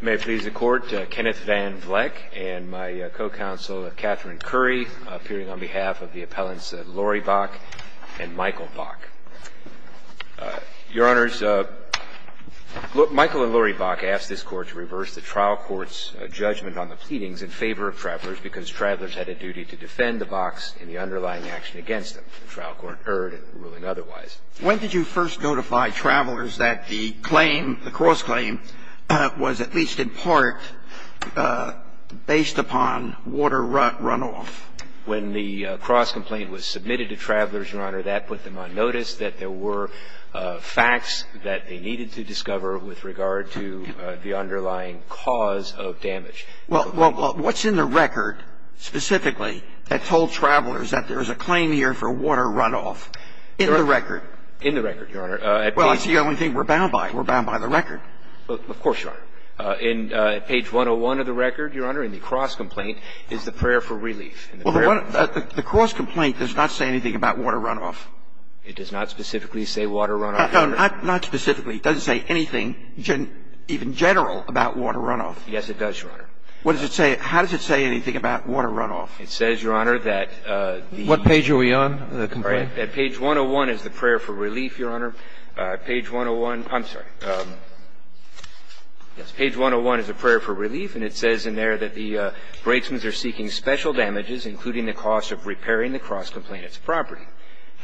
May it please the court, Kenneth Van Vleck and my co-counsel Katherine Currie appearing on behalf of the appellants Lori Bock and Michael Bock. Your honors, Michael and Lori Bock asked this court to reverse the trial court's judgment on the pleadings in favor of travelers because travelers had a duty to defend the bocks in the underlying action against them. The trial court erred in ruling otherwise. When did you first notify travelers that the claim, the claim was at least in part based upon water runoff? When the cross-complaint was submitted to travelers, your honor, that put them on notice that there were facts that they needed to discover with regard to the underlying cause of damage. Well, what's in the record specifically that told travelers that there is a claim here for water runoff in the record? In the record, your honor. Well, that's the only thing we're bound by. We're bound by the record. Well, of course, your honor. In page 101 of the record, your honor, in the cross-complaint is the prayer for relief. Well, the cross-complaint does not say anything about water runoff. It does not specifically say water runoff, your honor. Not specifically. It doesn't say anything even general about water runoff. Yes, it does, your honor. What does it say? How does it say anything about water runoff? It says, your honor, that the ---- What page are we on in the complaint? Page 101 is the prayer for relief, your honor. Page 101 ---- I'm sorry. Yes. Page 101 is the prayer for relief, and it says in there that the braidsmen are seeking special damages, including the cost of repairing the cross-complaintant's property.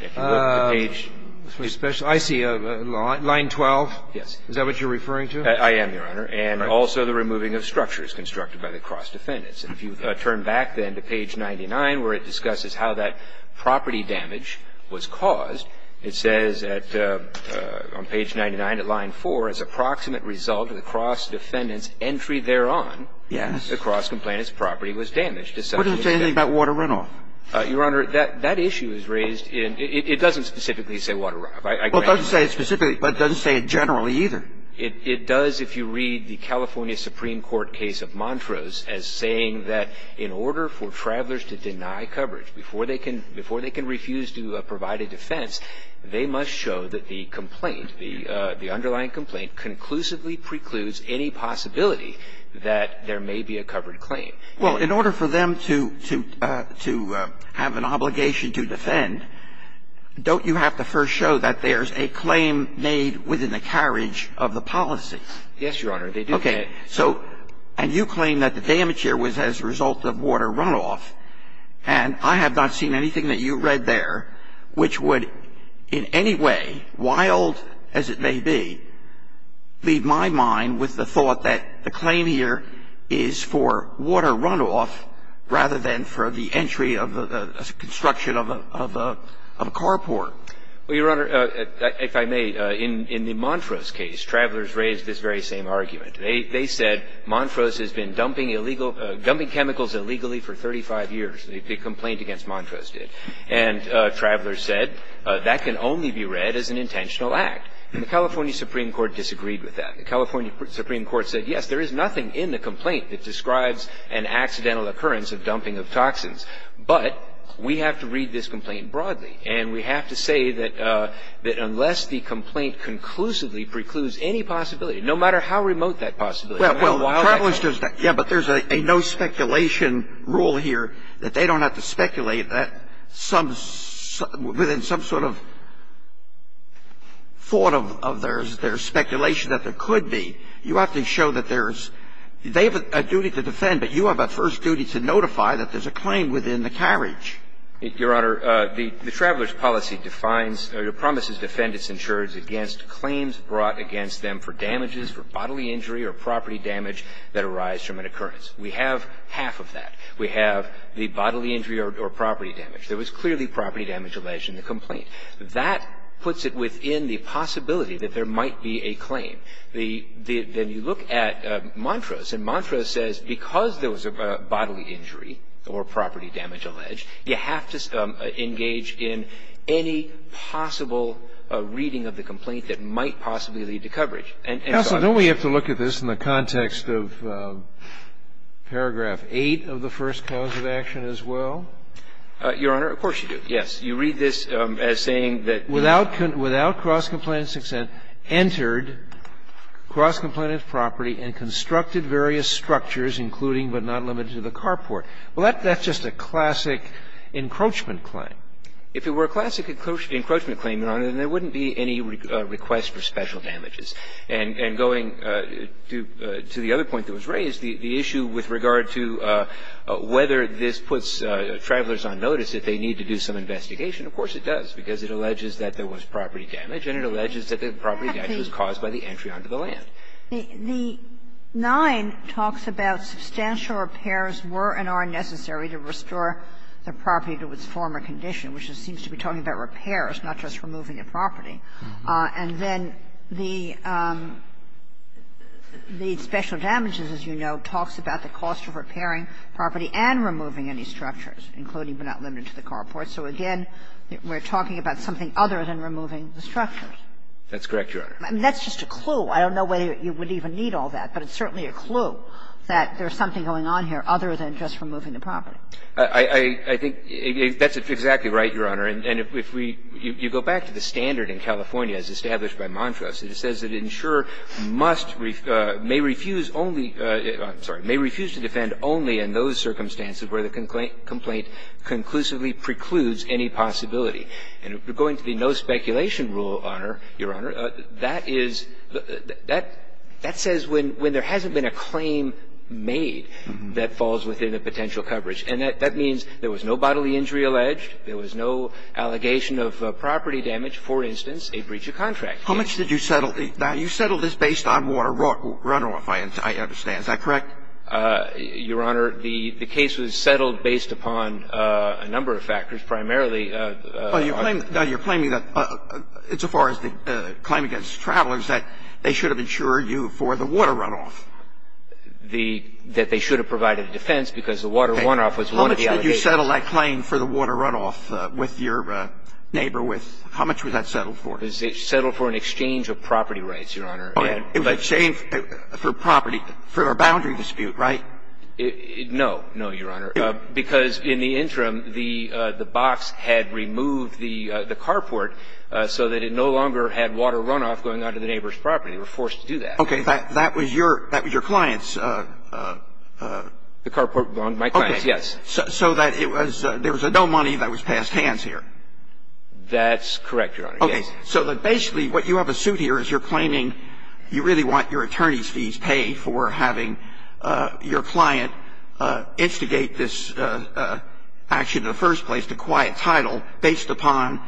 If you look at page ---- I see. Line 12? Yes. Is that what you're referring to? I am, your honor. And also the removing of structures constructed by the cross-defendants. If you turn back, then, to page 99, where it discusses how that property damage was caused, it says that on page 99 at line 4, as a proximate result of the cross-defendant's entry thereon, the cross-complaintant's property was damaged. What does it say anything about water runoff? Your honor, that issue is raised in ---- it doesn't specifically say water runoff. I grant you that. Well, it doesn't say it specifically, but it doesn't say it generally either. It does if you read the California Supreme Court case of Montrose as saying that in order for travelers to deny coverage before they can refuse to provide a defense, they must show that the complaint, the underlying complaint, conclusively precludes any possibility that there may be a covered claim. Well, in order for them to have an obligation to defend, don't you have to first show that there's a claim made within the carriage of the policy? Yes, Your Honor. They do that. Okay. So you claim that the damage here was as a result of water runoff, and I have not seen anything that you read there which would in any way, wild as it may be, leave my mind with the thought that the claim here is for water runoff rather than for the entry of the construction of a carport. Well, Your Honor, if I may, in the Montrose case, travelers raised this very same argument. They said Montrose has been dumping chemicals illegally for 35 years. The complaint against Montrose did. And travelers said that can only be read as an intentional act. And the California Supreme Court disagreed with that. The California Supreme Court said, yes, there is nothing in the complaint that describes broadly. And we have to say that unless the complaint conclusively precludes any possibility, no matter how remote that possibility, no matter how wild that possibility is. Yeah, but there's a no speculation rule here that they don't have to speculate that some – within some sort of thought of their speculation that there could be. You have to show that there's – they have a duty to defend, but you have a first duty to notify that there's a claim within the carriage. Your Honor, the traveler's policy defines – or promises defend its insurers against claims brought against them for damages, for bodily injury or property damage that arise from an occurrence. We have half of that. We have the bodily injury or property damage. There was clearly property damage alleged in the complaint. That puts it within the possibility that there might be a claim. The – then you look at Montrose, and Montrose says because there was a bodily injury or property damage alleged, you have to engage in any possible reading of the complaint that might possibly lead to coverage. And so I think we have to look at this in the context of paragraph 8 of the first cause of action as well. Your Honor, of course you do, yes. You read this as saying that without cross-complainant success, entered cross-complainant property and constructed various structures, including but not limited to the carport. Well, that's just a classic encroachment claim. If it were a classic encroachment claim, Your Honor, then there wouldn't be any request for special damages. And going to the other point that was raised, the issue with regard to whether this puts travelers on notice if they need to do some investigation, of course it does, because it alleges that there was property damage and it alleges that the property damage was caused by the entry onto the land. The 9 talks about substantial repairs were and are necessary to restore the property to its former condition, which seems to be talking about repairs, not just removing a property. And then the special damages, as you know, talks about the cost of repairing property and removing any structures, including but not limited to the carport. So again, we're talking about something other than removing the structures. That's correct, Your Honor. That's just a clue. I don't know whether you would even need all that, but it's certainly a clue that there's something going on here other than just removing the property. I think that's exactly right, Your Honor. And if we go back to the standard in California as established by Montrose, it says that an insurer must may refuse only – I'm sorry – may refuse to defend only in those circumstances where the complaint conclusively precludes any possibility. And going to the no speculation rule, Your Honor, that is – that says when there hasn't been a claim made that falls within the potential coverage. And that means there was no bodily injury alleged, there was no allegation of property damage, for instance, a breach of contract. How much did you settle? Now, you settled this based on water runoff, I understand. Is that correct? Your Honor, the case was settled based upon a number of factors, primarily Well, you're claiming – now, you're claiming that – as far as the claim against travelers, that they should have insured you for the water runoff. The – that they should have provided a defense because the water runoff was one of the allegations. How much did you settle that claim for the water runoff with your neighbor with – how much was that settled for? It was settled for an exchange of property rights, Your Honor. Oh, an exchange for property – for a boundary dispute, right? No, no, Your Honor, because in the interim, the box had removed the carport so that it no longer had water runoff going onto the neighbor's property. They were forced to do that. Okay. That was your – that was your client's? The carport belonged to my client, yes. Okay. So that it was – there was no money that was passed hands here? That's correct, Your Honor, yes. Okay. So basically what you have as suit here is you're claiming you really want your client instigate this action in the first place, to acquire a title, based upon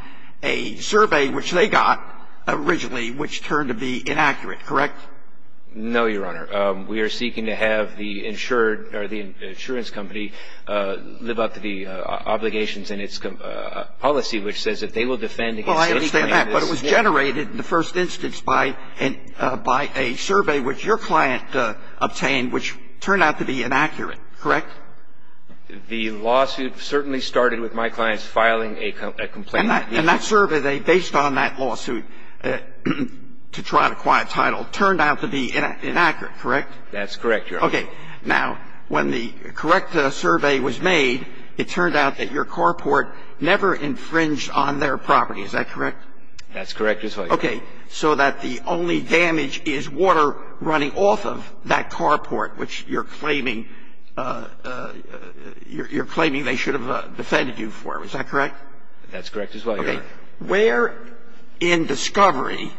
a survey which they got originally which turned to be inaccurate, correct? No, Your Honor. We are seeking to have the insured – or the insurance company live up to the obligations in its policy which says that they will defend against any claim that's – Well, I understand that, but it was generated in the first instance by – by a survey which your client obtained which turned out to be inaccurate, correct? The lawsuit certainly started with my client's filing a complaint. And that – and that survey, they – based on that lawsuit to try to acquire a title, turned out to be inaccurate, correct? That's correct, Your Honor. Okay. Now, when the correct survey was made, it turned out that your carport never infringed on their property. Is that correct? That's correct, Your Honor. Okay. So that the only damage is water running off of that carport, which you're claiming – you're claiming they should have defended you for. Is that correct? That's correct as well, Your Honor. Okay. Where in discovery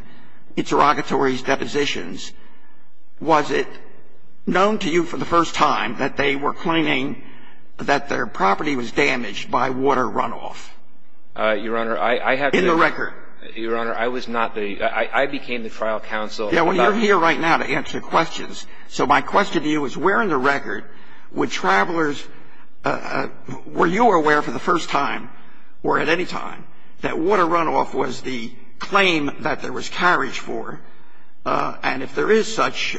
– interrogatory depositions – was it known to you for the first time that they were claiming that their property was damaged by water runoff? Your Honor, I have to – In the record. Your Honor, I was not the – I became the trial counsel. Yeah, well, you're here right now to answer questions. So my question to you is where in the record would travelers – were you aware for the first time or at any time that water runoff was the claim that there was carriage for? And if there is such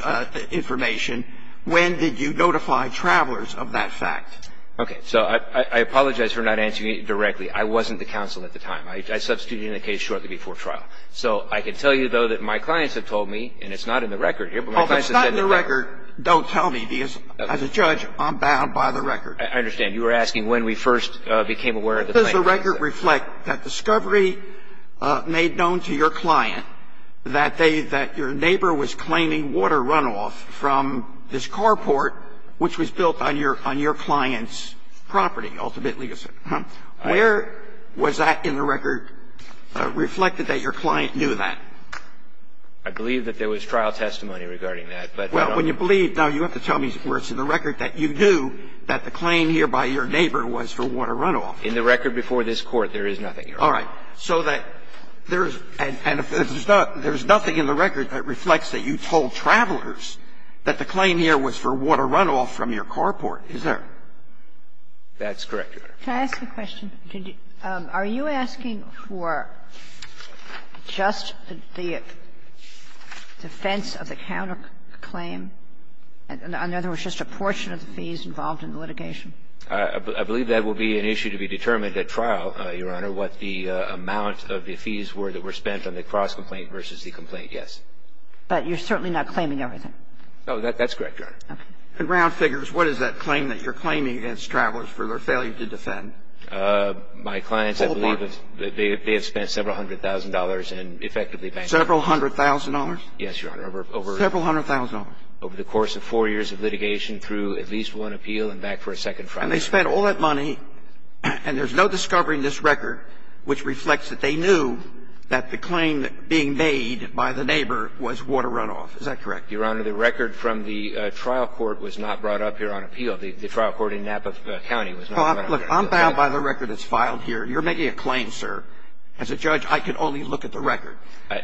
information, when did you notify travelers of that fact? Okay. So I apologize for not answering it directly. I wasn't the counsel at the time. I substituted it in the case shortly before trial. So I can tell you, though, that my clients have told me – and it's not in the record here, but my clients have said that they're – Well, if it's not in the record, don't tell me, because as a judge, I'm bound by the record. I understand. You were asking when we first became aware of the claim. Does the record reflect that discovery made known to your client that they – that your neighbor was claiming water runoff from this carport, which was built on your – on your client's property, ultimately, you said? Where was that in the record reflected that your client knew that? I believe that there was trial testimony regarding that, but I don't know. Well, when you believe – now, you have to tell me where it's in the record that you knew that the claim here by your neighbor was for water runoff. In the record before this Court, there is nothing here. All right. So that there's – and if there's not – there's nothing in the record that reflects that you told travelers that the claim here was for water runoff from your carport, is there? That's correct, Your Honor. Can I ask a question? Did you – are you asking for just the defense of the counterclaim? In other words, just a portion of the fees involved in the litigation? I believe that will be an issue to be determined at trial, Your Honor, what the amount of the fees were that were spent on the cross-complaint versus the complaint, yes. But you're certainly not claiming everything. Oh, that's correct, Your Honor. Okay. And round figures, what is that claim that you're claiming against travelers for their failure to defend? My clients, I believe, they have spent several hundred thousand dollars in effectively bankruptcy. Several hundred thousand dollars? Yes, Your Honor. Over several hundred thousand dollars. Over the course of four years of litigation through at least one appeal and back for a second trial. And they spent all that money, and there's no discovery in this record which reflects that they knew that the claim being made by the neighbor was water runoff. Is that correct? Your Honor, the record from the trial court was not brought up here on appeal. The trial court in Napa County was not brought up here. Look, I'm bound by the record that's filed here. You're making a claim, sir. As a judge, I can only look at the record.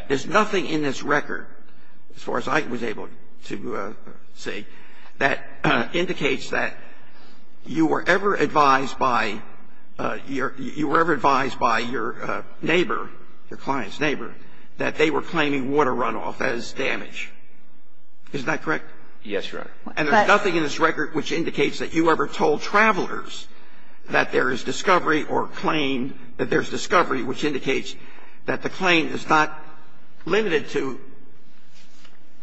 There's nothing in this record, as far as I was able to see, that indicates that you were ever advised by your neighbor, your client's neighbor, that they were claiming water runoff as damage. Is that correct? Yes, Your Honor. And there's nothing in this record which indicates that you ever told travelers that there is discovery or claim, that there's discovery which indicates that the claim is not limited to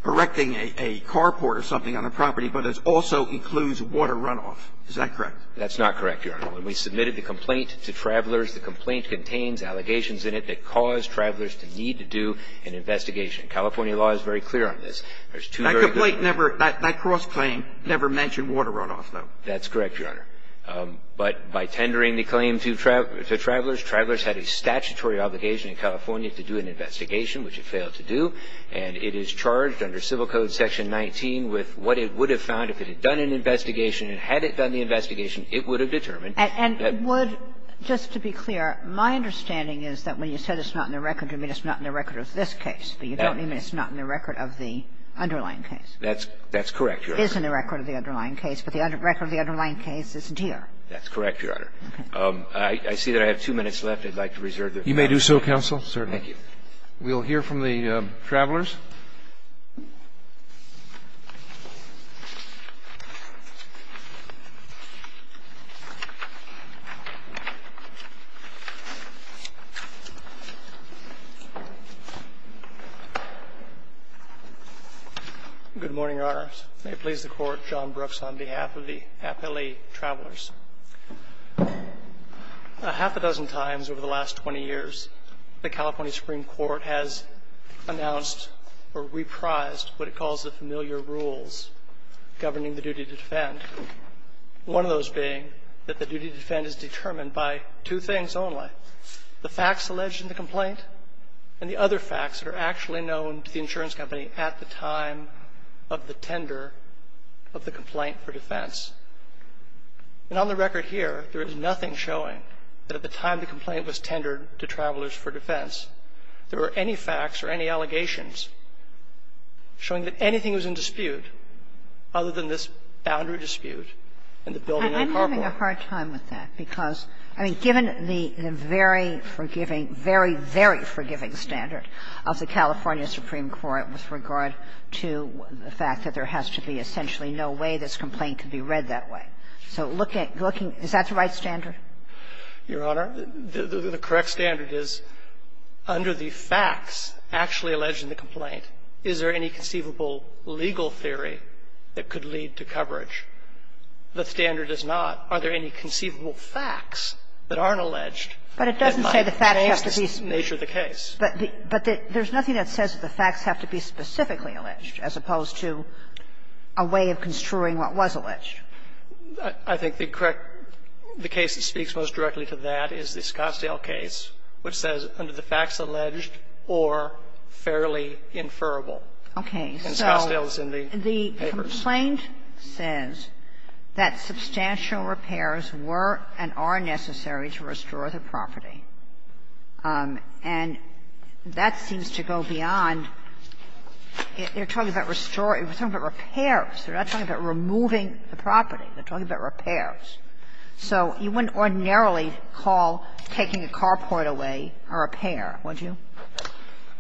erecting a carport or something on a property, but it also includes water runoff. Is that correct? That's not correct, Your Honor. When we submitted the complaint to travelers, the complaint contains allegations in it that caused travelers to need to do an investigation. California law is very clear on this. There's two very good reasons. One is that the claim is not limited to erecting a carport. The other is that the claim is not limited to erecting a carport. The complaint never – that cross-claim never mentioned water runoff, though. That's correct, Your Honor. But by tendering the claim to travelers, travelers had a statutory obligation in California to do an investigation, which it failed to do, and it is charged under Civil Code section 19 with what it would have found if it had done an investigation, and had it done the investigation, it would have determined that the – That's – that's correct, Your Honor. It is in the record of the underlying case, but the record of the underlying case isn't here. That's correct, Your Honor. I see that I have two minutes left. I'd like to reserve the floor. You may do so, counsel. Thank you. We'll hear from the travelers. Good morning, Your Honors. May it please the Court, John Brooks on behalf of the appellee travelers. A half a dozen times over the last 20 years, the California Supreme Court has announced or reprised what it calls the familiar rules governing the duty to defend, one of those being that the duty to defend is determined by two things only, the facts alleged in the complaint and the other facts that are actually known to the insurance company at the time of the tender of the complaint for defense. And on the record here, there is nothing showing that at the time the complaint was tendered to travelers for defense, there were any facts or any allegations showing that anything was in dispute other than this boundary dispute and the building of the carport. And I'm having a hard time with that because, I mean, given the very forgiving – very, very forgiving standard of the California Supreme Court with regard to the fact that there has to be essentially no way this complaint can be read that way. So looking – is that the right standard? Gershengorn Your Honor, the correct standard is, under the facts actually alleged in the complaint, is there any conceivable legal theory that could lead to coverage? The standard is not, are there any conceivable facts that aren't alleged that might Kagan But it doesn't say the facts have to be – but there's nothing that says the facts have to be specifically alleged as opposed to a way of construing what was alleged. Gershengorn I think the correct – the case that speaks most directly to that is the Scottsdale case, which says under the facts alleged or fairly inferable. And Scottsdale is in the papers. Kagan Okay. So the complaint says that substantial repairs were and are necessary to restore the property. And that seems to go beyond – you're talking about restoring – you're talking about repairs. You're not talking about removing the property. You're talking about repairs. So you wouldn't ordinarily call taking a carport away a repair, would you?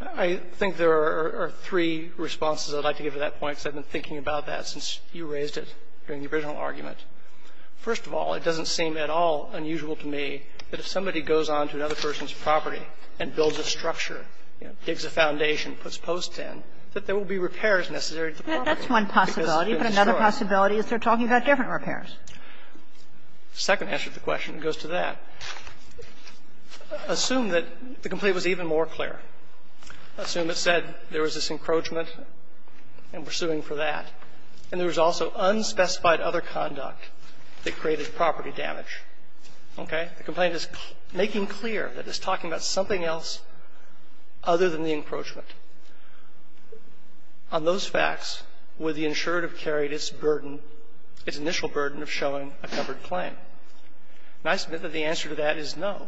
Gershengorn I think there are three responses I'd like to give to that point, because I've been thinking about that since you raised it during the original argument. First of all, it doesn't seem at all unusual to me that if somebody goes on to another person's property and builds a structure, digs a foundation, puts posts in, that there will be repairs necessary to the property. Kagan That's one possibility, but another possibility is they're talking about Gershengorn Second answer to the question goes to that. Assume that the complaint was even more clear. Assume it said there was this encroachment and we're suing for that, and there was also unspecified other conduct that created property damage. Okay? The complaint is making clear that it's talking about something else other than the encroachment. Now, the question is, would the insurer have carried its burden, its initial burden, of showing a covered claim? And I submit that the answer to that is no.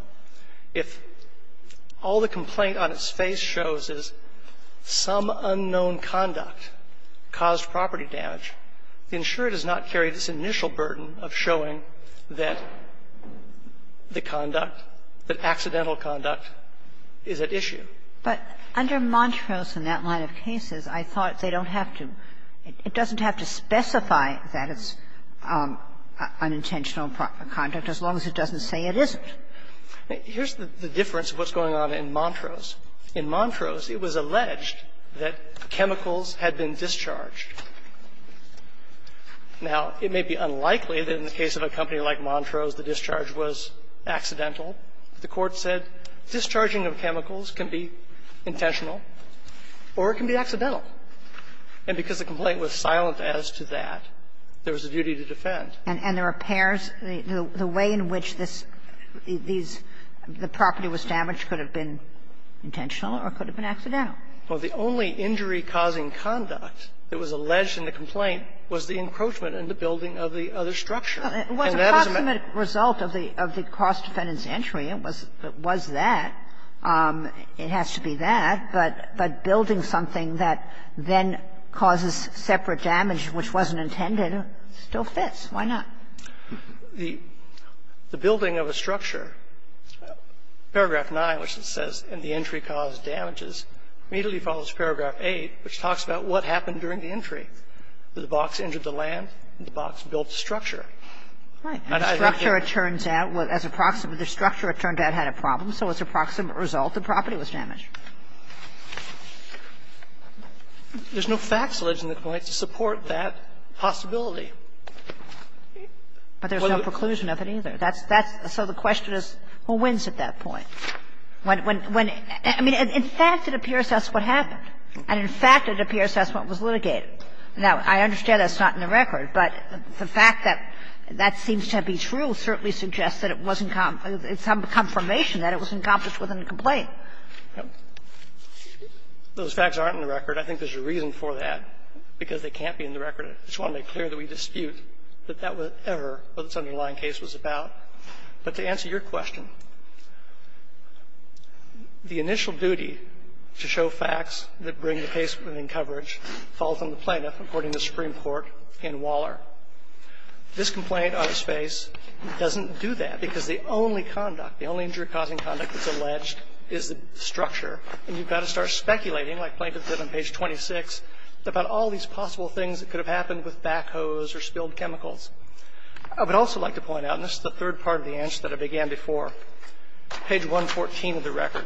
If all the complaint on its face shows is some unknown conduct caused property damage, the insurer does not carry this initial burden of showing that the conduct, that accidental conduct is at issue. Kagan But under Montrose and that line of cases, I thought they don't have to, it doesn't have to specify that it's unintentional conduct, as long as it doesn't say it isn't. Here's the difference of what's going on in Montrose. In Montrose, it was alleged that chemicals had been discharged. Now, it may be unlikely that in the case of a company like Montrose, the discharge was accidental. The Court said discharging of chemicals can be intentional or it can be accidental. And because the complaint was silent as to that, there was a duty to defend. And the repairs, the way in which this, these, the property was damaged could have been intentional or could have been accidental. Well, the only injury-causing conduct that was alleged in the complaint was the encroachment in the building of the other structure. And that is a matter of fact. Kagan It was a proximate result of the cross-defendant's entry. It was that. It has to be that. But building something that then causes separate damage, which wasn't intended, still fits. Why not? The building of a structure, paragraph 9, which says, And the entry caused damages, immediately follows paragraph 8, which talks about what happened during the entry. The box entered the land and the box built the structure. Kagan Right. The structure, it turns out, as a proximate, the structure, it turned out, had a problem. So as a proximate result, the property was damaged. Gershengorn There's no facts alleged in the complaint to support that possibility. Kagan But there's no preclusion of it either. That's, that's, so the question is, who wins at that point? When, when, when, I mean, in fact, it appears that's what happened. And in fact, it appears that's what was litigated. Now, I understand that's not in the record, but the fact that that seems to be true certainly suggests that it wasn't, it's some confirmation that it was accomplished within the complaint. Gershengorn Those facts aren't in the record. I think there's a reason for that, because they can't be in the record. I just want to make clear that we dispute that that was ever what this underlying case was about. But to answer your question, the initial duty to show facts that bring the case within coverage falls on the plaintiff, according to Supreme Court in Waller. This complaint, on its face, doesn't do that, because the only conduct, the only injury-causing conduct that's alleged is the structure. And you've got to start speculating, like Plaintiff did on page 26, about all these possible things that could have happened with backhoes or spilled chemicals. I would also like to point out, and this is the third part of the answer that I began before, page 114 of the record,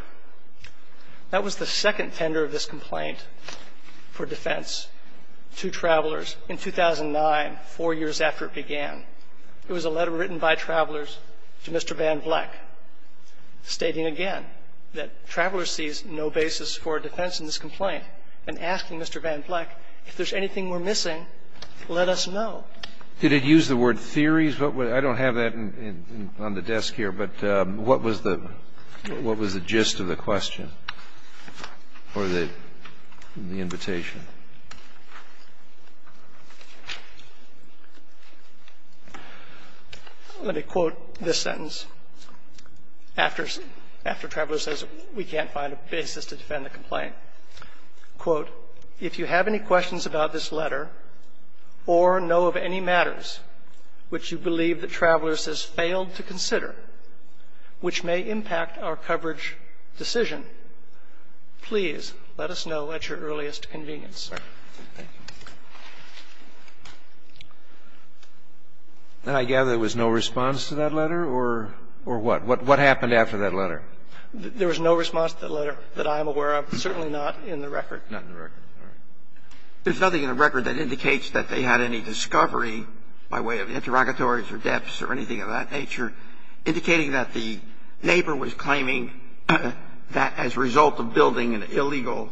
that was the second tender of this complaint. It was a letter written by Travelers to Mr. Van Vleck, stating again that Travelers sees no basis for a defense in this complaint, and asking Mr. Van Vleck, if there's anything we're missing, let us know. Did it use the word theories? I don't have that on the desk here, but what was the gist of the question? Or the invitation? Let me quote this sentence, after Travelers says we can't find a basis to defend the complaint. Quote, If you have any questions about this letter or know of any matters which you believe that Travelers has failed to consider which may impact our coverage decision, please let us know at your earliest convenience. Thank you. And I gather there was no response to that letter, or what? What happened after that letter? There was no response to that letter that I'm aware of, certainly not in the record. Not in the record. All right. There's nothing in the record that indicates that they had any discovery by way of interrogatories or depths or anything of that nature, indicating that the neighbor was claiming that as a result of building an illegal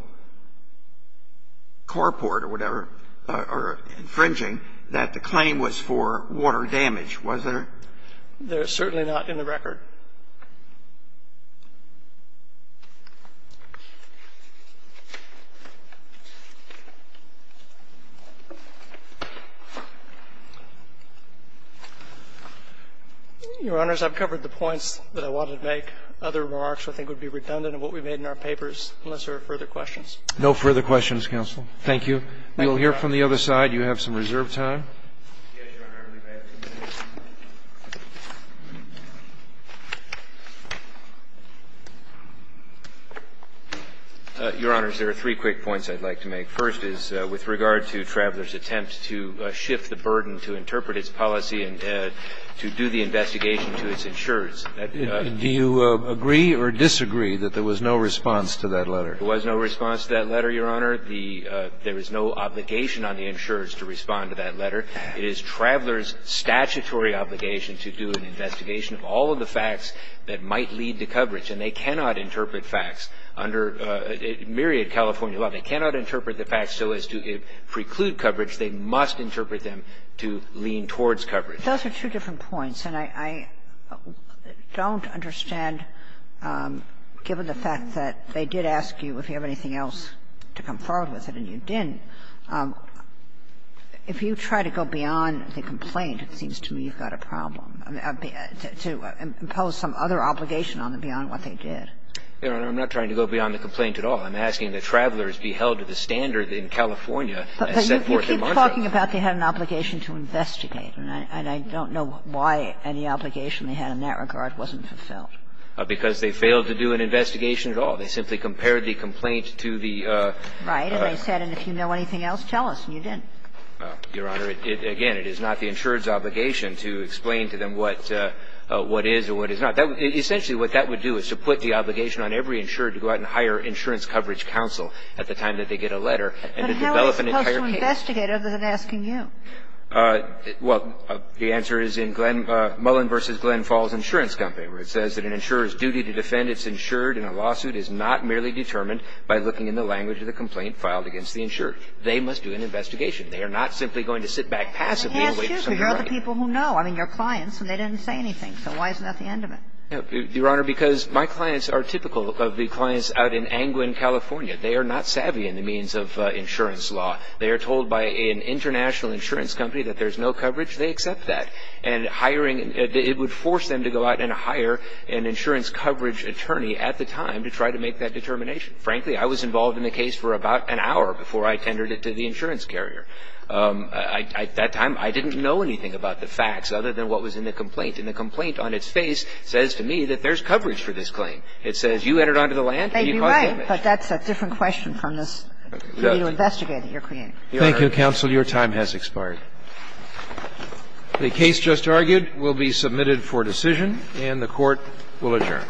carport or whatever, or infringing, that the claim was for water damage, was there? Your Honors, I've covered the points that I wanted to make. Other remarks, I think, would be redundant of what we've made in our papers, unless there are further questions. No further questions, counsel. Thank you. We will hear from the other side. You have some reserved time. Your Honors, there are three quick points I'd like to make. First is, with regard to Traveler's attempt to shift the burden to interpret its policy and to do the investigation to its insurers. Do you agree or disagree that there was no response to that letter? There was no response to that letter, Your Honor. There is no obligation on the insurers to respond to that letter. It is Traveler's statutory obligation to do an investigation of all of the facts that might lead to coverage. And they cannot interpret facts under myriad California law. They cannot interpret the facts so as to preclude coverage. They must interpret them to lean towards coverage. Those are two different points. And I don't understand, given the fact that they did ask you if you have anything else to come forward with it, and you didn't, if you try to go beyond the complaint, it seems to me you've got a problem, to impose some other obligation on them beyond what they did. Your Honor, I'm not trying to go beyond the complaint at all. I'm asking that Traveler's be held to the standard in California as set forth in Montreal. But you keep talking about they had an obligation to investigate, and I don't know why any obligation they had in that regard wasn't fulfilled. Because they failed to do an investigation at all. They simply compared the complaint to the other. Right. And they said, and if you know anything else, tell us, and you didn't. Your Honor, again, it is not the insurer's obligation to explain to them what is or what is not. Essentially, what that would do is to put the obligation on every insurer to go out and hire insurance coverage counsel at the time that they get a letter and to develop an entire case. But how are they supposed to investigate other than asking you? Well, the answer is in Mullen v. Glenn Falls Insurance Company, where it says that an insurer's duty to defend its insured in a lawsuit is not merely determined by looking in the language of the complaint filed against the insured. They must do an investigation. They are not simply going to sit back passively and wait for someone to write. But they asked you, because you're the people who know. I mean, you're clients, and they didn't say anything. So why isn't that the end of it? Your Honor, because my clients are typical of the clients out in Angwin, California. They are not savvy in the means of insurance law. They are told by an international insurance company that there's no coverage. They accept that. And hiring and it would force them to go out and hire an insurance coverage attorney at the time to try to make that determination. Frankly, I was involved in the case for about an hour before I tendered it to the insurance carrier. I at that time, I didn't know anything about the facts other than what was in the complaint. And the complaint on its face says to me that there's coverage for this claim. It says you entered onto the land and you caused damage. Maybe right, but that's a different question from this, for you to investigate that you're creating. Thank you, counsel. Your time has expired. The case just argued will be submitted for decision and the Court will adjourn.